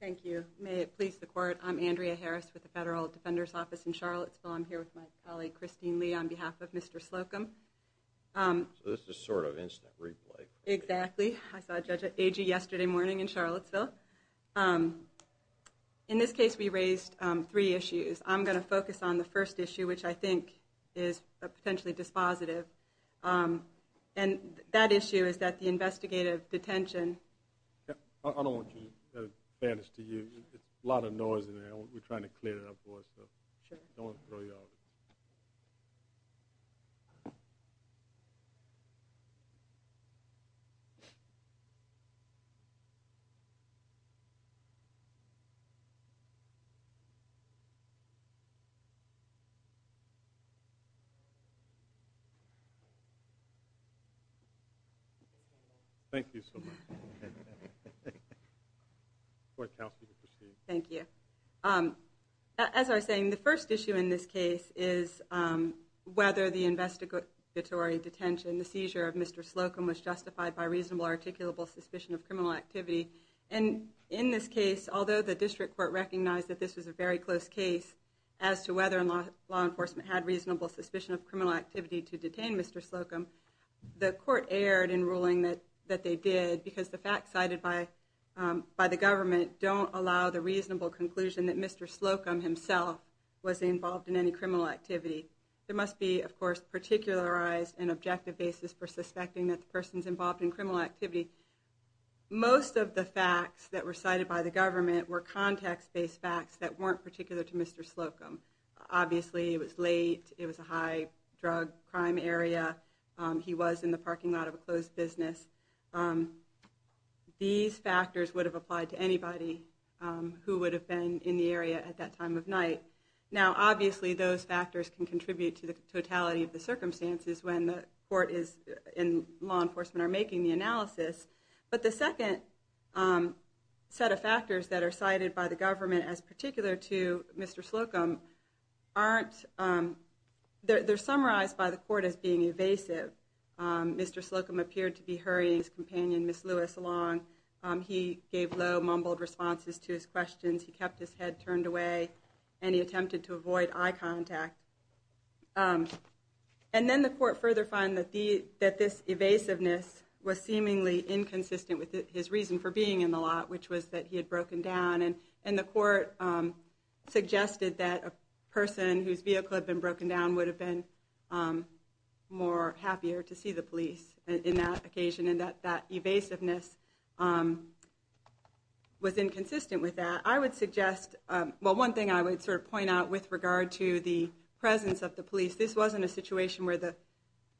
Thank you. May it please the Court, I'm Andrea Harris with the Federal Defender's Office in Charlottesville. I'm here with my colleague Christine Lee on behalf of Mr. Slocumb. So this is sort of an instant replay. Exactly. I saw Judge Agee yesterday morning in Charlottesville. In this case we raised three issues. I'm going to focus on the first issue, which I think is potentially dispositive. And that issue is that the investigative detention... I don't want to give the advantage to you. There's a lot of noise in there. We're trying to make sure that you can hear me. Thank you so much. Thank you. As I was saying, the first issue in this case is whether the investigatory detention, the seizure of Mr. Slocumb was justified by reasonable or articulable suspicion of criminal activity. And in this case, although the District Court recognized that this was a very close case as to whether law enforcement had reasonable suspicion of criminal activity to detain Mr. Slocumb, the court erred in ruling that they did because the facts cited by the government don't allow the reasonable conclusion that Mr. Slocumb himself was involved in any criminal activity. There must be, of course, a particularized and objective basis for suspecting that the person's involved in criminal activity. Most of the facts that were cited by the government were context-based facts that weren't particular to Mr. Slocumb. Obviously, it was late. It was a high-drug crime area. He was in the parking lot of a closed business. These factors would have applied to anybody who would have been in the area at that time of night. Now, obviously, those factors can contribute to the totality of the circumstances when the court and law enforcement are making the analysis. But the second set of factors that are cited by the government as particular to Mr. Slocumb aren't...they're summarized by the court as being evasive. Mr. Slocumb appeared to be hurrying his companion, Ms. Lewis, along. He gave low, mumbled responses to his questions. He kept his head turned away, and he attempted to avoid eye contact. And then the court further found that this evasiveness was seemingly inconsistent with his reason for being in the lot, which was that he had broken down. And the court suggested that a person whose vehicle had been broken down would have been more happier to see the police in that occasion, and that that evasiveness was inconsistent with that. I would suggest...well, one thing I would sort of point out with regard to the presence of the police, this wasn't a situation where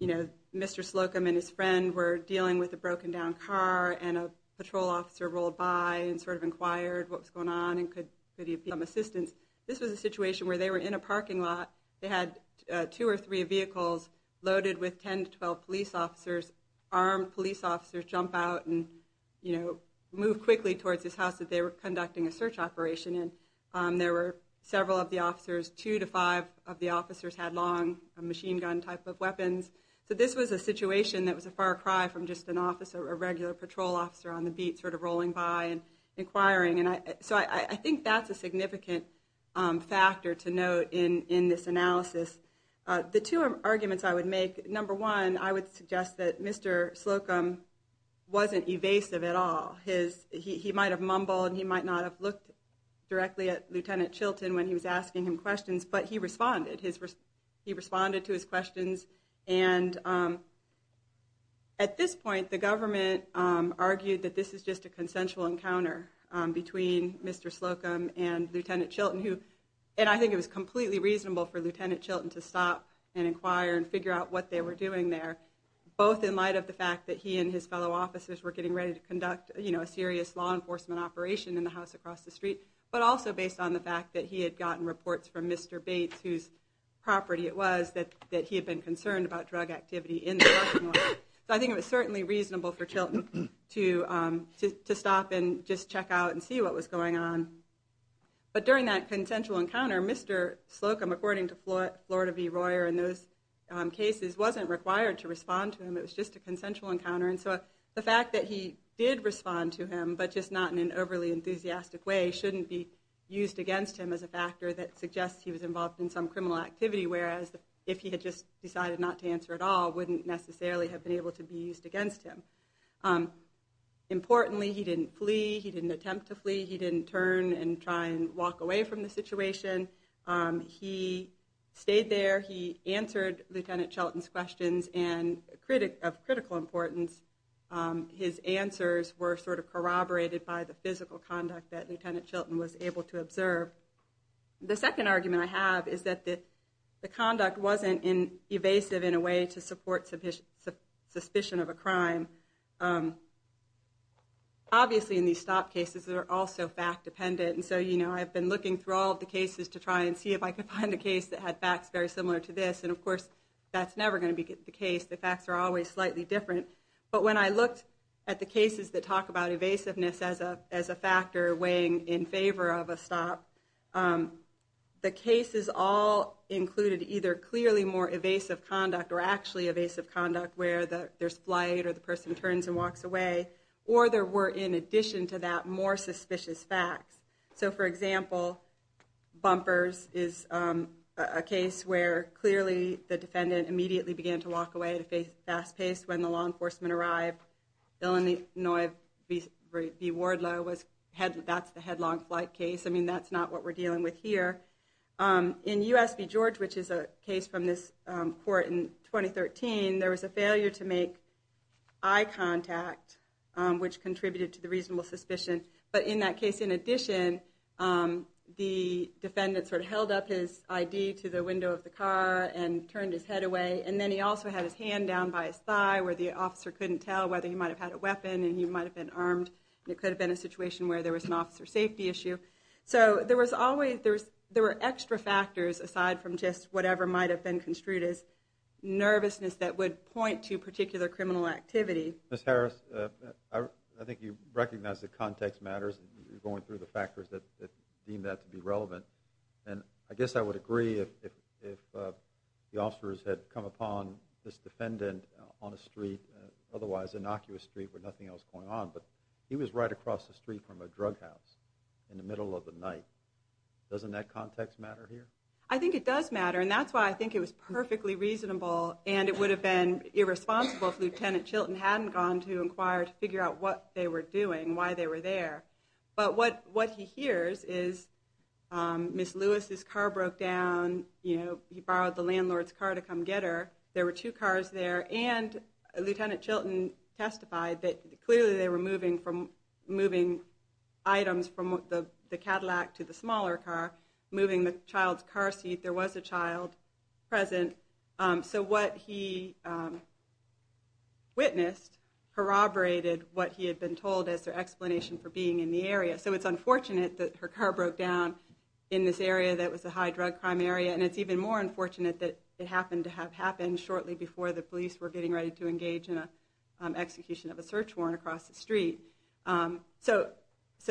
Mr. Slocumb and his friend were dealing with a broken down car, and a patrol officer rolled by and sort of inquired what was going on, and could he get some assistance. This was a situation where they were in a parking lot. They had two or three vehicles loaded with 10 to 12 police officers. Armed police officers jump out and move quickly towards this house that they were conducting a search operation in. There were several of the officers, two to five of the officers had long machine gun type of weapons. So this was a situation that was a far cry from just a regular patrol officer on the beat sort of rolling by and inquiring. So I think that's a significant factor to note in this analysis. The two arguments I would make, number one, I would suggest that Mr. Slocumb wasn't evasive at all. He might have mumbled and he might not have looked directly at Lieutenant Chilton when he was asking him questions, but he responded to his questions. At this point, the government argued that this is just a consensual encounter between Mr. Slocumb and Lieutenant Chilton, and I think it was completely reasonable for Lieutenant Chilton to stop and inquire and figure out what they were doing there, both in light of the fact that he and his family were involved in a serious law enforcement operation in the house across the street, but also based on the fact that he had gotten reports from Mr. Bates, whose property it was, that he had been concerned about drug activity in the restaurant. So I think it was certainly reasonable for Chilton to stop and just check out and see what was going on. But during that consensual encounter, Mr. Slocumb, according to Florida v. Royer in those days, should not be used against him as a factor that suggests he was involved in some criminal activity, whereas if he had just decided not to answer at all, wouldn't necessarily have been able to be used against him. Importantly, he didn't flee, he didn't attempt to flee, he didn't turn and try and walk away from the situation. He stayed there, he answered Lieutenant Chilton's questions, and he was not affected or corroborated by the physical conduct that Lieutenant Chilton was able to observe. The second argument I have is that the conduct wasn't evasive in a way to support suspicion of a crime. Obviously in these stop cases, they're also fact dependent, and so I've been looking through all the cases to try and see if I could find a case that had facts very similar to this, and of course, that's never going to be the case. The facts are always slightly different. But when I looked at the cases that talk about evasiveness as a factor weighing in favor of a stop, the cases all included either clearly more evasive conduct or actually evasive conduct, where there's flight or the person turns and walks away, or there were, in addition to that, more suspicious facts. So for example, Bumpers is a case where clearly the defendant immediately began to walk away at a fast pace when the law enforcement arrived. Illinois v. Wardlow, that's the headlong flight case. I mean, that's not what we're dealing with here. In U.S. v. George, which is a case from this court in 2013, there was a failure to make eye contact, which contributed to the reasonable suspicion. But in that case, in addition, the defendant held up his ID to the window of the car and turned his head away, and then he also had his hand down by his thigh, where the officer couldn't tell whether he might have had a weapon and he might have been armed, and it could have been a situation where there was an officer safety issue. So there were extra factors aside from just whatever might have been construed as nervousness that would point to particular criminal activity. Ms. Harris, I think you recognize that context matters. You're going through the factors that deem that to be relevant. And I guess I would agree if the officers had come upon this defendant on a street, otherwise innocuous street, where nothing else was going on, but he was right across the street from a drug house in the middle of the night. Doesn't that context matter here? I think it does matter, and that's why I think it was perfectly reasonable, and it would have been irresponsible if Lt. Chilton hadn't gone to inquire to figure out what they were doing, why they were there. But what he hears is, Ms. Lewis's car broke down. He borrowed the landlord's car to come get her. There were two cars there, and Lt. Chilton testified that clearly they were moving items from the Cadillac to the smaller car, moving the child's car seat. There was a child present. So what he witnessed corroborated what he had been told as their actions in the area, and it's even more unfortunate that it happened to have happened shortly before the police were getting ready to engage in an execution of a search warrant across the street. So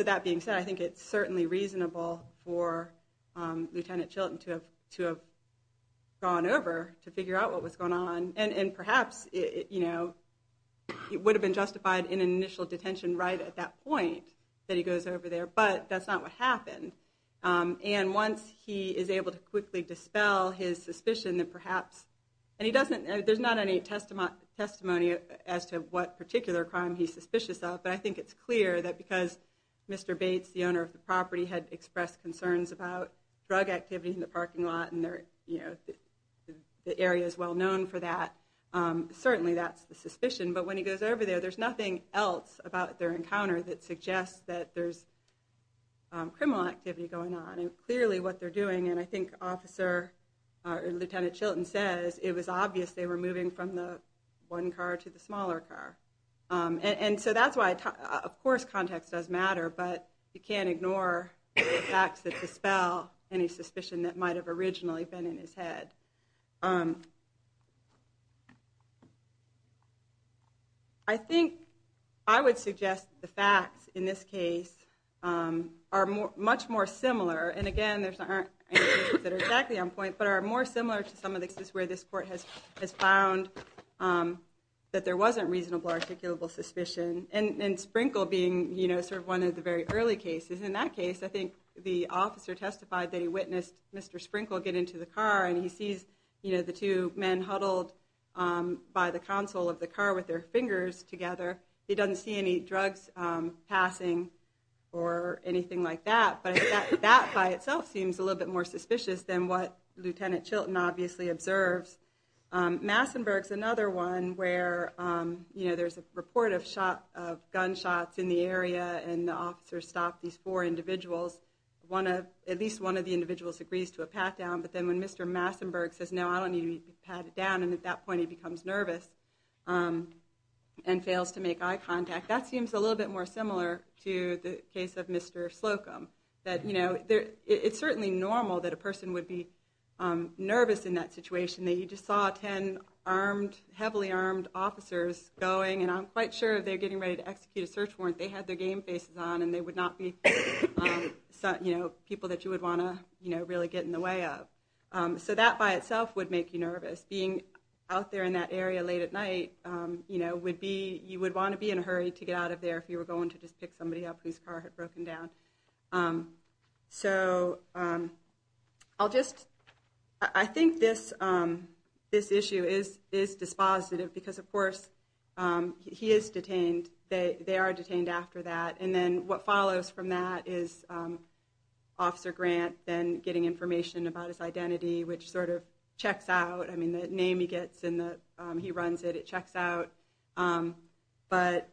that being said, I think it's certainly reasonable for Lt. Chilton to have gone over to figure out what was going on, and perhaps it would have been justified in an initial detention right at that point that he goes over there, but that's not what happened. And once he is able to basically dispel his suspicion, then perhaps, and there's not any testimony as to what particular crime he's suspicious of, but I think it's clear that because Mr. Bates, the owner of the property, had expressed concerns about drug activity in the parking lot, and the area is well known for that, certainly that's the suspicion. But when he goes over there, there's nothing else about their encounter that suggests that there's criminal activity going on. And clearly what they're doing, and I think Lt. Chilton says it was obvious they were moving from the one car to the smaller car. And so that's why, of course, context does matter, but you can't ignore the facts that dispel any suspicion that might have originally been in his head. I think I would suggest the facts in this case are much more similar, and again, there aren't any cases that are exactly on point, but are more similar to some of the cases where this court has found that there wasn't reasonable articulable suspicion, and Sprinkle being sort of one of the very early cases. In that case, I think the officer testified that he witnessed Mr. Sprinkle get into the car, and he sees the two men huddled by the console of the car with their fingers together. He doesn't see any drugs passing or anything like that, but that by itself seems a little bit more suspicious than what Lt. Chilton obviously observes. Massenburg's another one where there's a report of gunshots in the area, and the officer stopped these four individuals. At least one of the individuals agrees to a pat-down, but then when Mr. Massenburg says, no, I don't need you to pat it down, and at that point he becomes nervous and fails to make eye contact, that seems a little bit more similar to the case of Mr. Slocum. And again, I don't think there's any reason for that. It's certainly normal that a person would be nervous in that situation. You just saw ten heavily armed officers going, and I'm quite sure they're getting ready to execute a search warrant. They had their game faces on, and they would not be people that you would want to really get in the way of. So that by itself would make you nervous. Being out there in that area late at night, you would want to be in a hurry to get out of there if you were going to just pick somebody up whose car had broken down. So I think this issue is dispositive, because of course he is detained, they are detained after that, and then what follows from that is Officer Grant then getting information about his identity, which sort of checks out. I mean, the name he gets and he runs it, it checks out. But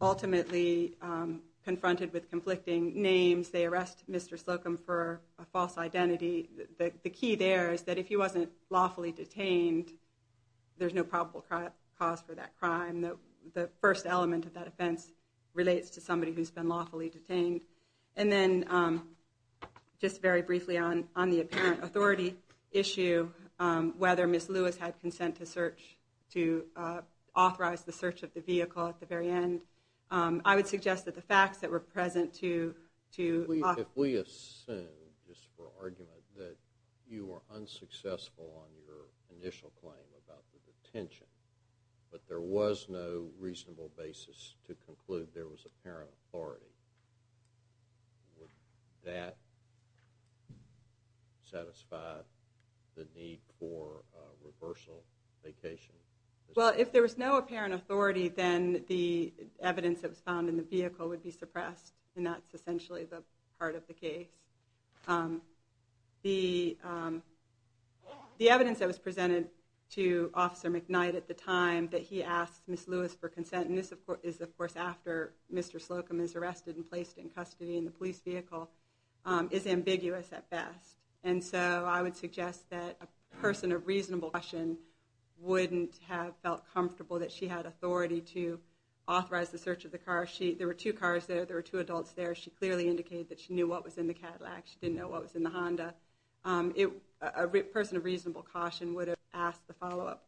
ultimately, confronted with conflicting names, they arrest Mr. Slocum for a false identity. The key there is that if he wasn't lawfully detained, there's no probable cause for that crime. The first element of that offense relates to somebody who's been lawfully detained. And then just very briefly on the apparent authority issue, whether Ms. Lewis had consent to search, to authorize the search of the vehicle at the very end, I would suggest that the facts that were present to… If we assume, just for argument, that you were unsuccessful on your initial claim about the detention, but there was no reasonable basis to conclude there was apparent authority, would that satisfy the need for reversal vacation? Well, if there was no apparent authority, then the evidence that was found in the vehicle would be suppressed, and that's essentially the heart of the case. The evidence that was presented to Officer McKnight at the time that he asked Ms. Lewis for consent, and this is of course after Mr. Slocum is arrested and placed in custody in the police vehicle, is ambiguous at best. And so I would suggest that a person of reasonable caution wouldn't have felt comfortable that she had authority to authorize the search of the car. There were two cars there. There were two adults there. She clearly indicated that she knew what was in the Cadillac. She didn't know what was in the Honda. A person of reasonable caution would have asked the follow-up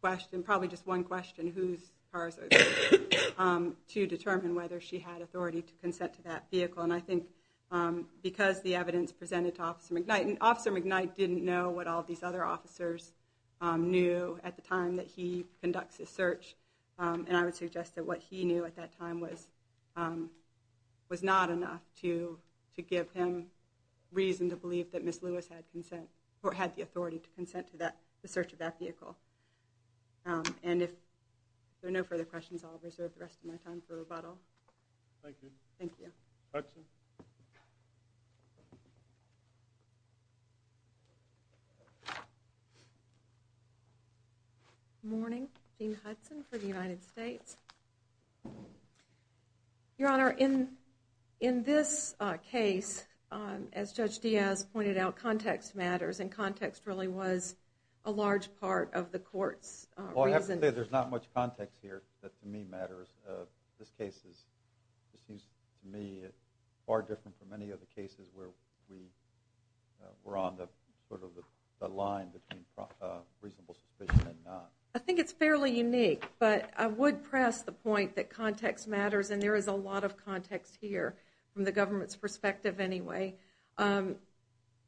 question, probably just one question, whose cars are those, to determine whether she had authority to consent to that vehicle. And I think because the evidence presented to Officer McKnight, and Officer McKnight didn't know what all these other officers knew at the time that he conducts his search, and I would suggest that what he knew at that time was not enough to give him reason to believe that Ms. Lewis had the authority to consent to the search of that vehicle. And if there are no further questions, I'll reserve the rest of my time for rebuttal. Thank you. Thank you. Hudson. Good morning. Jeanne Hudson for the United States. Your Honor, in this case, as Judge Diaz pointed out, context matters, and context really was a large part of the court's reason. I have to say, there's not much context here that, to me, matters. This case is, to me, far different from any of the cases where we were on the line between reasonable suspicion and not. I think it's fairly unique, but I would press the point that context matters, and there is a lot of context here, from the government's perspective anyway.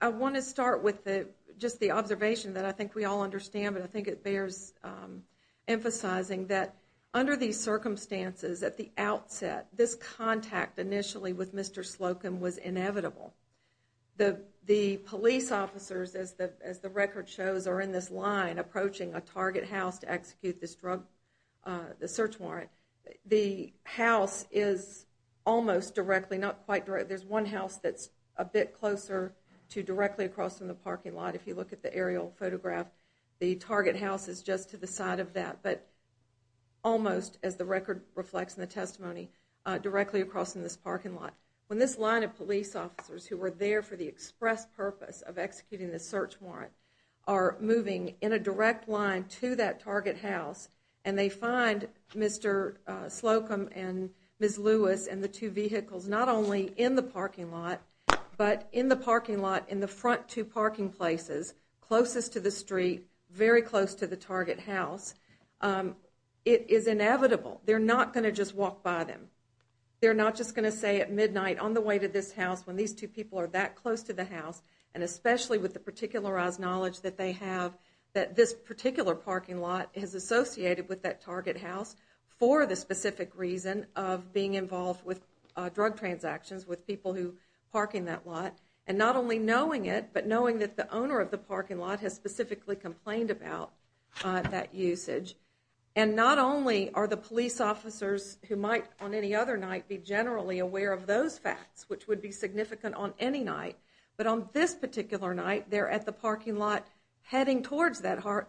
I want to start with just the observation that I think we all understand, but I think it bears emphasizing, that under these circumstances, at the outset, this contact initially with Mr. Slocum was inevitable. The police officers, as the record shows, are in this line approaching a target house to execute this drug, the search warrant. The house is almost directly, not quite direct, there's one house that's a bit closer to directly across from the parking lot. If you look at the aerial photograph, the target house is just to the side of that, but almost, as the record reflects in the testimony, directly across from this parking lot. When this line of police officers, who were there for the express purpose of executing the search warrant, are moving in a direct line to that target house, and they find Mr. Slocum and Ms. Lewis, and the two vehicles, not only in the parking lot, but in the parking lot, in the front two parking places, closest to the street, very close to the target house, it is inevitable. They're not going to just walk by them. They're not just going to say at midnight, on the way to this house, when these two people are that close to the house, and especially with the particularized knowledge that they have, that this particular parking lot is associated with that target house, for the specific reason of being involved with drug transactions, with drug trafficking. And not only knowing it, but knowing that the owner of the parking lot has specifically complained about that usage, and not only are the police officers who might, on any other night, be generally aware of those facts, which would be significant on any night, but on this particular night, they're at the parking lot, heading towards that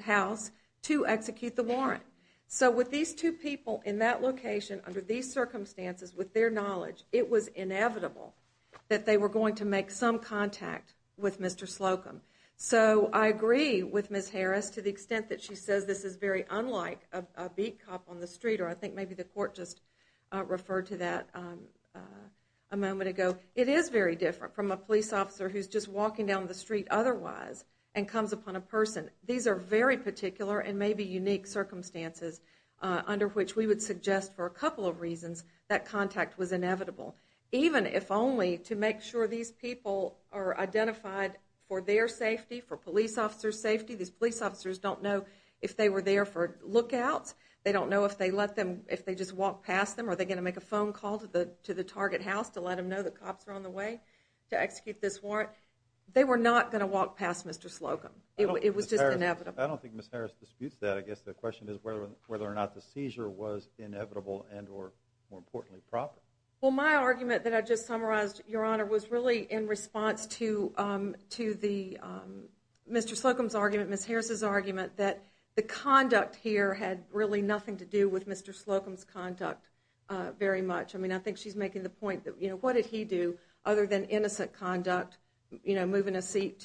house, to execute the warrant. So, with these two people, in that location, under these circumstances, with their knowledge, it was inevitable that they were going to make some contact with Mr. Slocum. So, I agree with Ms. Harris, to the extent that she says this is very unlike a beat cop on the street, or I think maybe the court just referred to that a moment ago. It is very different from a police officer who's just walking down the street otherwise, and comes upon a person. These are very particular and maybe unique circumstances, under which we would suggest, for a couple of reasons, that contact was inevitable. Even, if only, to make sure these people are identified for their safety, for police officers' safety. These police officers don't know if they were there for lookouts. They don't know if they just walked past them. Are they going to make a phone call to the target house to let them know the cops are on the way to execute this warrant? They were not going to walk past Mr. Slocum. It was just inevitable. I don't think Ms. Harris disputes that. I guess the question is whether or not the seizure was inevitable and or, more importantly, proper. Well, my argument that I just summarized, Your Honor, was really in response to Mr. Slocum's argument, Ms. Harris' argument, that the conduct here had really nothing to do with Mr. Slocum's conduct very much. I mean, I think she's making the point that, you know, what did he do other than innocent conduct, you know, moving a seat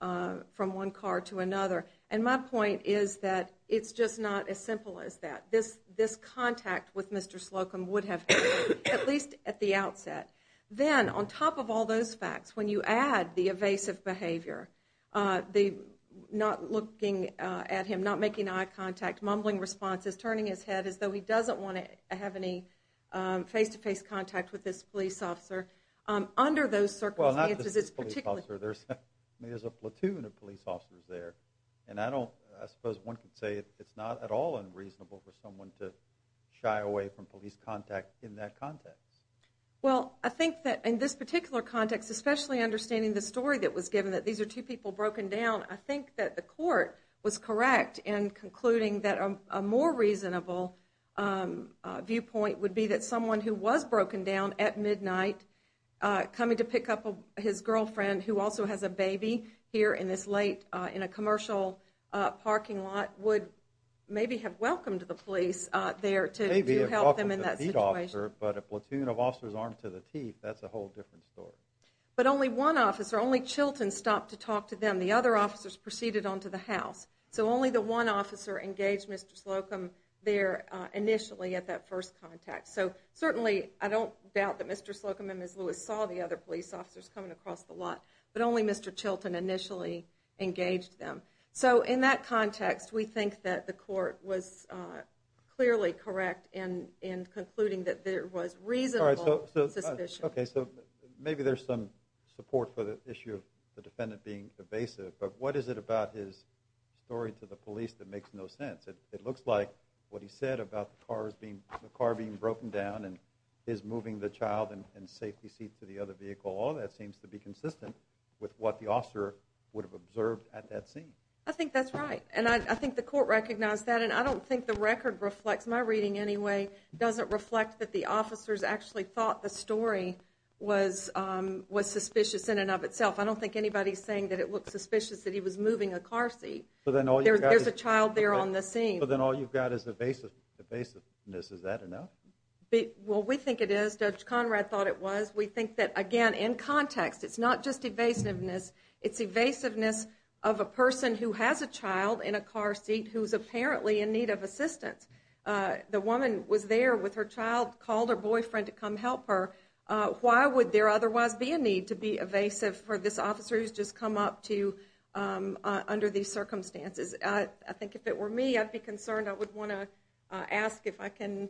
from one car to another? And my point is that it's just not as simple as that. This contact with Mr. Slocum would have happened, at least at the outset. Then, on top of all those facts, when you add the evasive behavior, not looking at him, not making eye contact, mumbling responses, turning his head as though he doesn't want to have any face-to-face contact with this police officer, under those circumstances, it's particularly difficult. I mean, there's a platoon of police officers there. And I don't, I suppose one could say it's not at all unreasonable for someone to shy away from police contact in that context. Well, I think that in this particular context, especially understanding the story that was given, that these are two people broken down, I think that the court was correct in concluding that a more reasonable viewpoint would be that someone who was broken down at midnight, coming to pick up his girlfriend, who also has a baby here in this late, in a commercial parking lot, would maybe have welcomed the police there to help them in that situation. Maybe have welcomed the beat officer, but a platoon of officers armed to the teeth, that's a whole different story. But only one officer, only Chilton stopped to talk to them. The other officers proceeded on to the house. So only the one officer engaged Mr. Slocum there initially at that first contact. So certainly, I don't doubt that Mr. Slocum and Ms. Lewis saw the other police officers coming across the lot, but only Mr. Chilton initially engaged them. So in that context, we think that the court was clearly correct in concluding that there was reasonable suspicion. Okay, so maybe there's some support for the issue of the defendant being evasive, but what is it about his story to the police that makes no sense? It looks like what he said about the car being broken down and his moving the child in a safety seat to the other vehicle, all of that seems to be consistent with what the officer would have observed at that scene. I think that's right, and I think the court recognized that, and I don't think the record reflects, my reading anyway, doesn't reflect that the officers actually thought the story was suspicious in and of itself. I don't think anybody's saying that it looked suspicious that he was moving a car seat. There's a child there on the scene. So then all you've got is evasiveness. Is that enough? Well, we think it is. Judge Conrad thought it was. We think that, again, in context, it's not just evasiveness. It's evasiveness of a person who has a child in a car seat who's apparently in need of assistance. The woman was there with her child, called her boyfriend to come help her. Why would there otherwise be a need to be evasive for this officer who's just come up under these circumstances? I think if it were me, I'd be concerned. I would want to ask if I can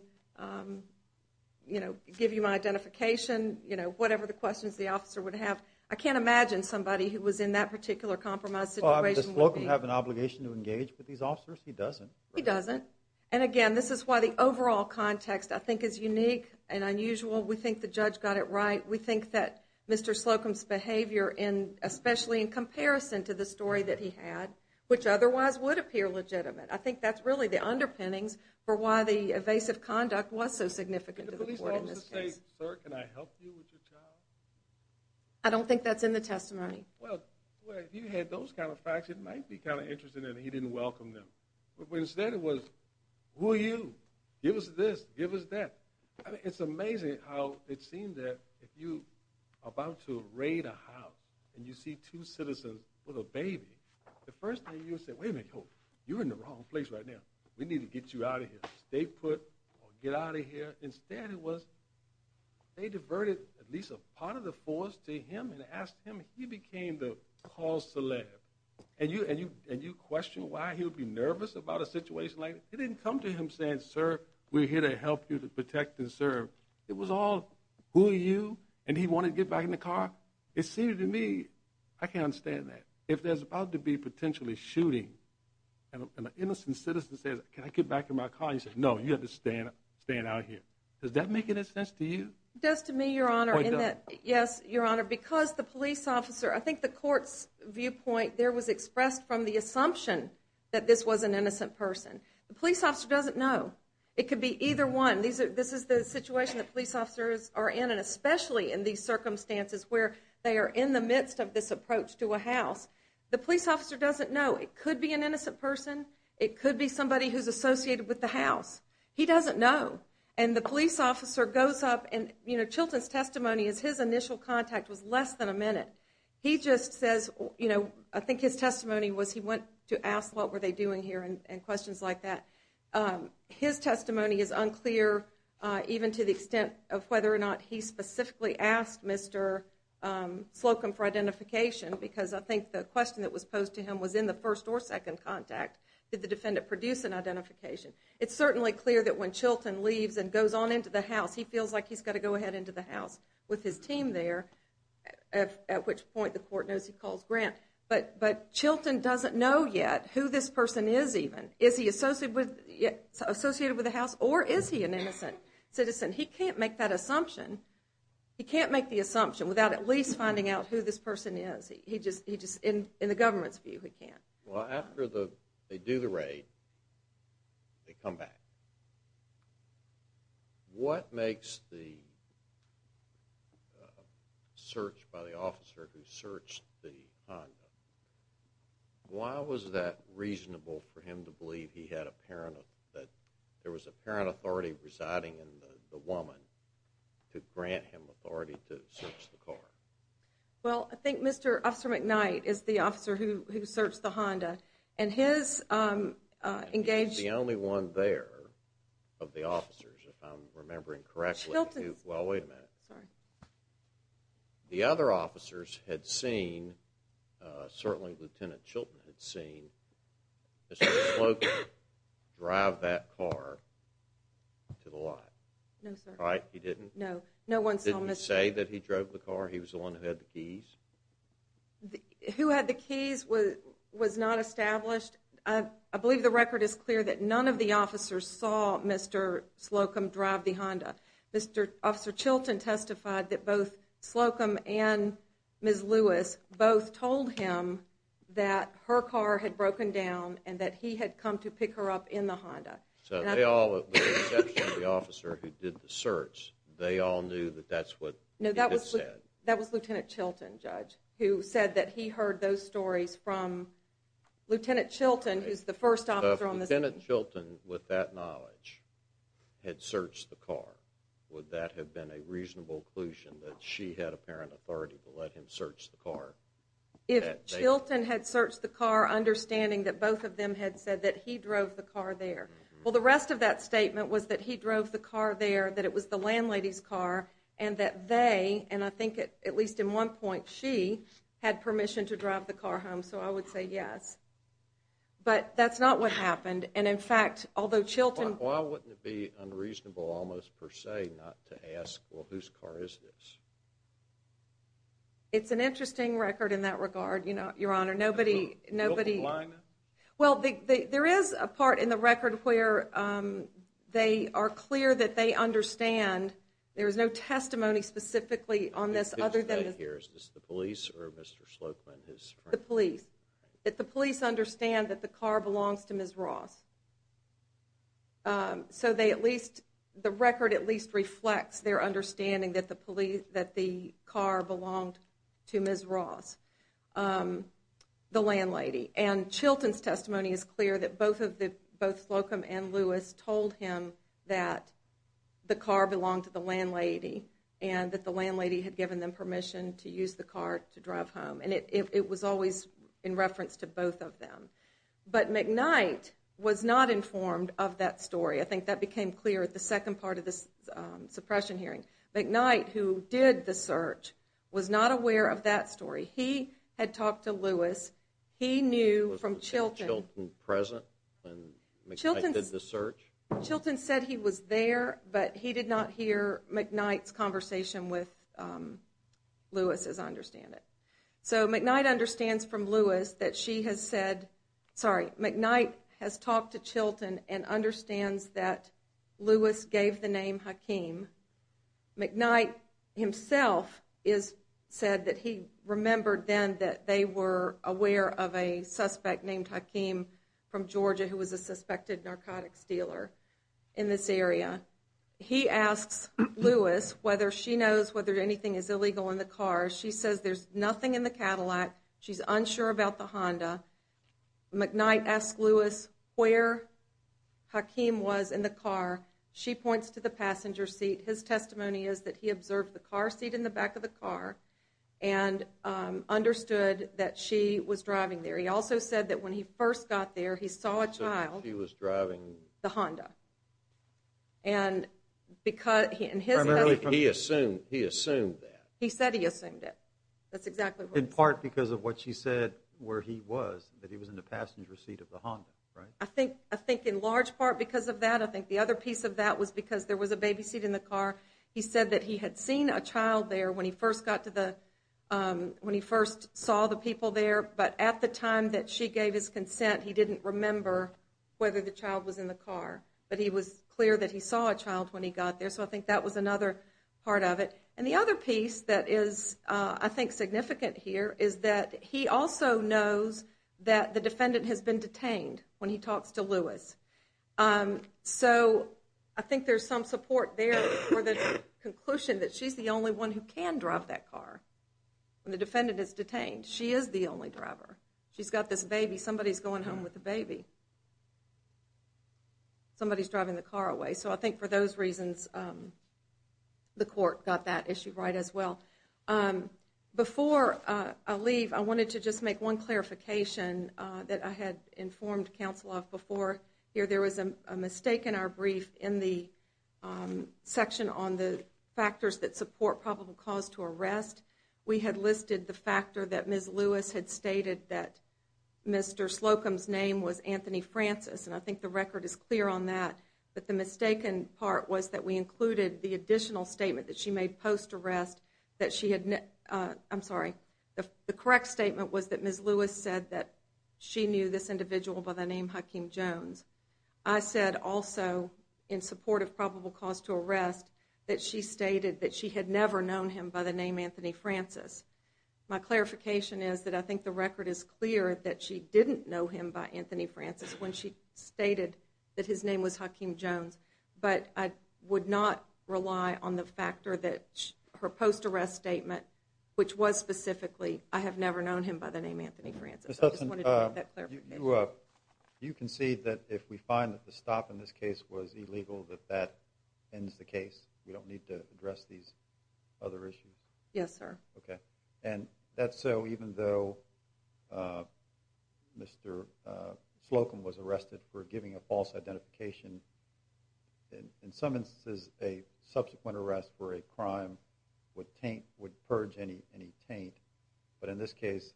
give you my identification, whatever the questions the officer would have. I can't imagine somebody who was in that particular compromised situation would be. Well, I mean, does Flokum have an obligation to engage with these officers? He doesn't. He doesn't, and again, this is why the overall context, I think, is unique and unusual. We think the judge got it right. We think that Mr. Flokum's behavior, especially in comparison to the story that he had, which otherwise would appear legitimate, I think that's really the underpinnings for why the evasive conduct was so significant to the court in this case. Did the police officer say, sir, can I help you with your child? I don't think that's in the testimony. Well, if you had those kind of facts, it might be kind of interesting that he didn't welcome them. But instead it was, who are you? Give us this. Give us that. It's amazing how it seemed that if you're about to raid a house and you see two citizens with a baby, the first thing you would say, wait a minute, you're in the wrong place right now. We need to get you out of here. Stay put or get out of here. Instead it was they diverted at least a part of the force to him and asked him. He became the call celeb. And you question why he would be nervous about a situation like that? He didn't come to him saying, sir, we're here to help you to protect and serve. It was all, who are you? And he wanted to get back in the car. It seemed to me, I can't understand that. If there's about to be potentially shooting and an innocent citizen says, can I get back in my car? He says, no, you have to stand out here. Does that make any sense to you? It does to me, Your Honor, in that, yes, Your Honor, because the police officer, I think the court's viewpoint there was expressed from the assumption that this was an innocent person. The police officer doesn't know. It could be either one. This is the situation that police officers are in, and especially in these circumstances where they are in the midst of this approach to a house. The police officer doesn't know. It could be an innocent person. It could be somebody who's associated with the house. He doesn't know. And the police officer goes up, and Chilton's testimony is his initial contact was less than a minute. He just says, I think his testimony was he went to ask what were they doing here and questions like that. His testimony is unclear even to the extent of whether or not he specifically asked Mr. Slocum for identification because I think the question that was posed to him was in the first or second contact. Did the defendant produce an identification? It's certainly clear that when Chilton leaves and goes on into the house, he feels like he's got to go ahead into the house with his team there, at which point the court knows he calls Grant. But Chilton doesn't know yet who this person is even. Is he associated with the house, or is he an innocent citizen? He can't make that assumption. He can't make the assumption without at least finding out who this person is. In the government's view, he can't. Well, after they do the raid, they come back. What makes the search by the officer who searched the Honda, why was that reasonable for him to believe he had a parent, that there was a parent authority residing in the woman to grant him authority to search the car? Well, I think Mr. Officer McKnight is the officer who searched the Honda, and he's the only one there of the officers, if I'm remembering correctly. Chilton's. Well, wait a minute. Sorry. The other officers had seen, certainly Lieutenant Chilton had seen, Mr. Slocum drive that car to the lot. No, sir. Right, he didn't? No. Didn't he say that he drove the car? He was the one who had the keys? Who had the keys was not established. I believe the record is clear that none of the officers saw Mr. Slocum drive the Honda. Mr. Officer Chilton testified that both Slocum and Ms. Lewis both told him that her car had broken down and that he had come to pick her up in the Honda. So they all, with the exception of the officer who did the search, they all knew that that's what he had said? That was Lieutenant Chilton, Judge, who said that he heard those stories from Lieutenant Chilton, who's the first officer on the scene. If Lieutenant Chilton, with that knowledge, had searched the car, would that have been a reasonable conclusion, that she had apparent authority to let him search the car? If Chilton had searched the car, understanding that both of them had said that he drove the car there. Well, the rest of that statement was that he drove the car there, that it was the landlady's car, and that they, and I think at least in one point, she, had permission to drive the car home. So I would say yes. But that's not what happened. And, in fact, although Chilton... Why wouldn't it be unreasonable, almost per se, not to ask, well, whose car is this? It's an interesting record in that regard, Your Honor. Nobody... Well, there is a part in the record where they are clear that they understand. There is no testimony specifically on this other than... Is this the police or Mr. Slocum and his friends? The police. The police understand that the car belongs to Ms. Ross. So they at least, the record at least reflects their understanding that the car belonged to Ms. Ross, the landlady. And Chilton's testimony is clear that both Slocum and Lewis told him that the car belonged to the landlady and that the landlady had given them permission to use the car to drive home. And it was always in reference to both of them. But McKnight was not informed of that story. I think that became clear at the second part of the suppression hearing. McKnight, who did the search, was not aware of that story. He had talked to Lewis. He knew from Chilton... Was Chilton present when McKnight did the search? Chilton said he was there, but he did not hear McKnight's conversation with Lewis, as I understand it. So McKnight understands from Lewis that she has said... Sorry, McKnight has talked to Chilton and understands that Lewis gave the name Hakeem. McKnight himself said that he remembered then that they were aware of a suspect named Hakeem from Georgia who was a suspected narcotics dealer in this area. He asks Lewis whether she knows whether anything is illegal in the car. She says there's nothing in the Cadillac. She's unsure about the Honda. McKnight asks Lewis where Hakeem was in the car. She points to the passenger seat. His testimony is that he observed the car seat in the back of the car and understood that she was driving there. He also said that when he first got there, he saw a child... She was driving... The Honda. And because... Primarily, he assumed that. He said he assumed it. That's exactly what he said. In part because of what she said where he was, that he was in the passenger seat of the Honda, right? I think in large part because of that. I think the other piece of that was because there was a baby seat in the car. He said that he had seen a child there when he first saw the people there, but at the time that she gave his consent, he didn't remember whether the child was in the car. But he was clear that he saw a child when he got there, so I think that was another part of it. And the other piece that is, I think, significant here is that he also knows that the defendant has been detained when he talks to Lewis. So I think there's some support there for the conclusion that she's the only one who can drive that car when the defendant is detained. She is the only driver. She's got this baby. Somebody's going home with the baby. Somebody's driving the car away. So I think for those reasons, the court got that issue right as well. Before I leave, I wanted to just make one clarification that I had informed counsel of before. There was a mistake in our brief in the section on the factors that support probable cause to arrest. We had listed the factor that Ms. Lewis had stated that Mr. Slocum's name was Anthony Francis, and I think the record is clear on that. But the mistaken part was that we included the additional statement that she made post-arrest that she had, I'm sorry, the correct statement was that Ms. Lewis said that she knew this individual by the name Hakeem Jones. I said also, in support of probable cause to arrest, that she stated that she had never known him by the name Anthony Francis. My clarification is that I think the record is clear that she didn't know him by Anthony Francis when she stated that his name was Hakeem Jones. But I would not rely on the factor that her post-arrest statement, which was specifically, I have never known him by the name Anthony Francis. I just wanted to make that clarification. You concede that if we find that the stop in this case was illegal, that that ends the case? We don't need to address these other issues? Yes, sir. Okay. And that's so even though Mr. Slocum was arrested for giving a false identification, in some instances a subsequent arrest for a crime would purge any taint. But in this case,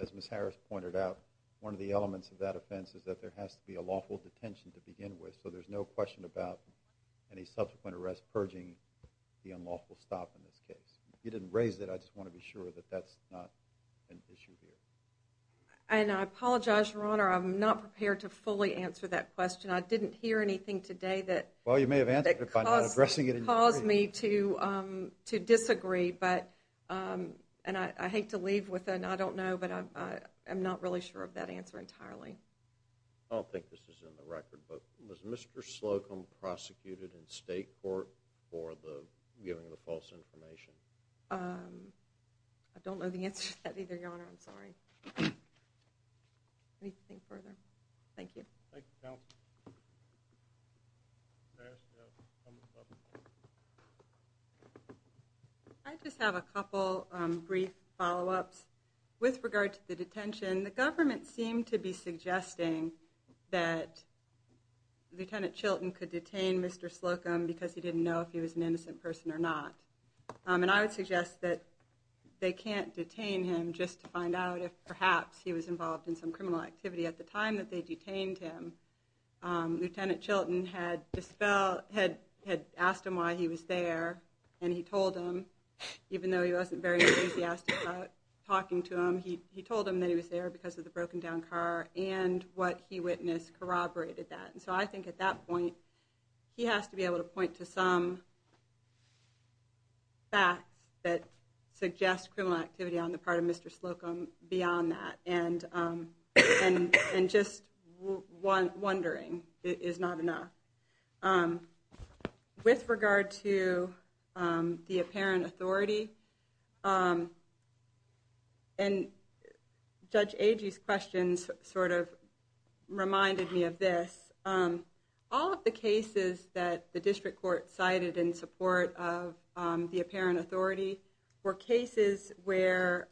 as Ms. Harris pointed out, one of the elements of that offense is that there has to be a lawful detention to begin with, so there's no question about any subsequent arrest purging the unlawful stop in this case. You didn't raise that. I just want to be sure that that's not an issue here. And I apologize, Your Honor. I'm not prepared to fully answer that question. I didn't hear anything today that caused me to disagree, and I hate to leave with an I don't know, but I'm not really sure of that answer entirely. I don't think this is in the record, but was Mr. Slocum prosecuted in state court for giving the false information? I don't know the answer to that either, Your Honor. I'm sorry. Anything further? Thank you. Thank you, counsel. I just have a couple brief follow-ups. With regard to the detention, the government seemed to be suggesting that Lieutenant Chilton could detain Mr. Slocum because he didn't know if he was an innocent person or not. And I would suggest that they can't detain him just to find out if perhaps he was involved in some criminal activity. At the time that they detained him, Lieutenant Chilton had asked him why he was there, and he told him, even though he wasn't very enthusiastic about talking to him, he told him that he was there because of the broken-down car, and what he witnessed corroborated that. And so I think at that point, he has to be able to point to some facts that suggest criminal activity on the part of Mr. Slocum beyond that, and just wondering is not enough. With regard to the apparent authority, and Judge Agee's questions sort of reminded me of this, all of the cases that the district court cited in support of the apparent authority were cases where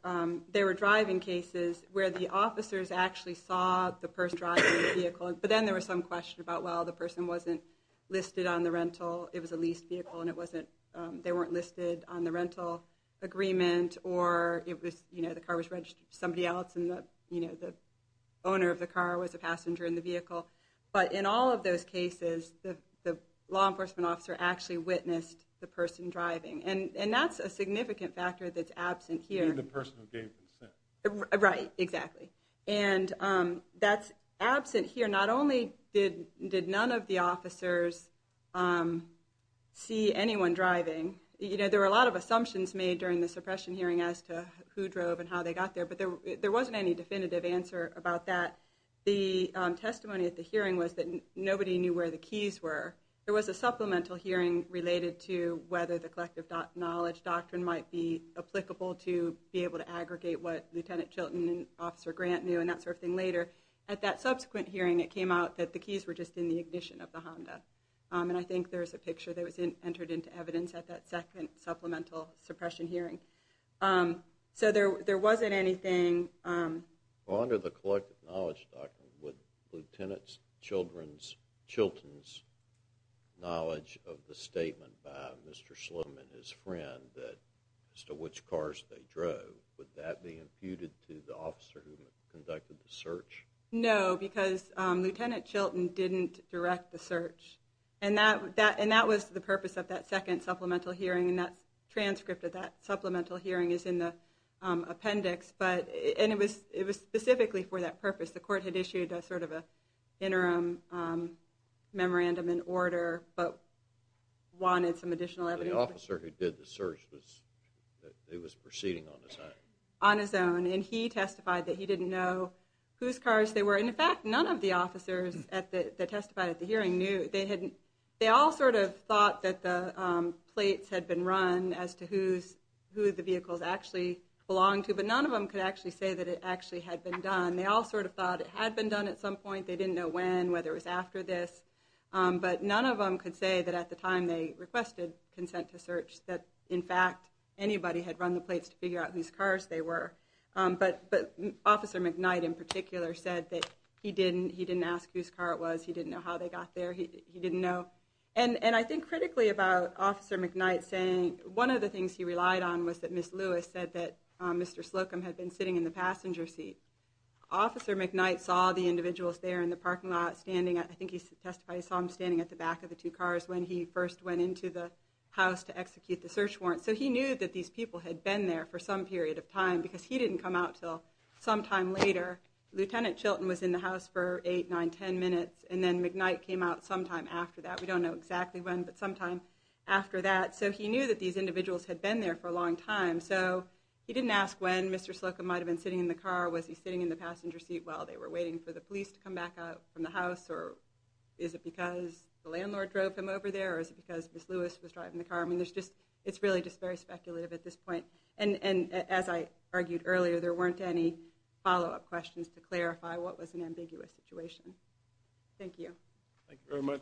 they were driving cases where the officers actually saw the first driver in the vehicle, but then there was some question about, well, the person wasn't listed on the rental, it was a leased vehicle, and they weren't listed on the rental agreement, or the car was registered to somebody else, and the owner of the car was a passenger in the vehicle. But in all of those cases, the law enforcement officer actually witnessed the person driving, and that's a significant factor that's absent here. You mean the person who gave consent. Right, exactly. And that's absent here. Not only did none of the officers see anyone driving, there were a lot of assumptions made during the suppression hearing as to who drove and how they got there, but there wasn't any definitive answer about that. The testimony at the hearing was that nobody knew where the keys were. There was a supplemental hearing related to whether the collective knowledge doctrine might be applicable to be able to aggregate what Lieutenant Chilton and Officer Grant knew, and that sort of thing later. At that subsequent hearing, it came out that the keys were just in the ignition of the Honda, and I think there's a picture that was entered into evidence at that second supplemental suppression hearing. So there wasn't anything. Under the collective knowledge doctrine, would Lieutenant Chilton's knowledge of the statement by Mr. Slim and his friend as to which cars they drove, would that be imputed to the officer who conducted the search? No, because Lieutenant Chilton didn't direct the search, and that was the purpose of that second supplemental hearing, and that transcript of that supplemental hearing is in the appendix. And it was specifically for that purpose. The court had issued sort of an interim memorandum in order, but wanted some additional evidence. So the officer who did the search was proceeding on his own? On his own, and he testified that he didn't know whose cars they were. In fact, none of the officers that testified at the hearing knew. They all sort of thought that the plates had been run as to who the vehicles actually belonged to, but none of them could actually say that it actually had been done. They all sort of thought it had been done at some point. They didn't know when, whether it was after this. But none of them could say that at the time they requested consent to search that in fact anybody had run the plates to figure out whose cars they were. But Officer McKnight in particular said that he didn't ask whose car it was, he didn't know how they got there, he didn't know. And I think critically about Officer McKnight saying, one of the things he relied on was that Miss Lewis said that Mr. Slocum had been sitting in the passenger seat. Officer McKnight saw the individuals there in the parking lot standing, I think he testified he saw them standing at the back of the two cars when he first went into the house to execute the search warrant. So he knew that these people had been there for some period of time because he didn't come out until sometime later. Lieutenant Chilton was in the house for 8, 9, 10 minutes and then McKnight came out sometime after that. We don't know exactly when, but sometime after that. So he knew that these individuals had been there for a long time. So he didn't ask when Mr. Slocum might have been sitting in the car, was he sitting in the passenger seat while they were waiting for the police to come back out from the house, or is it because the landlord drove him over there, or is it because Miss Lewis was driving the car? I mean, it's really just very speculative at this point. And as I argued earlier, there weren't any follow-up questions to clarify what was an ambiguous situation. Thank you. Thank you very much.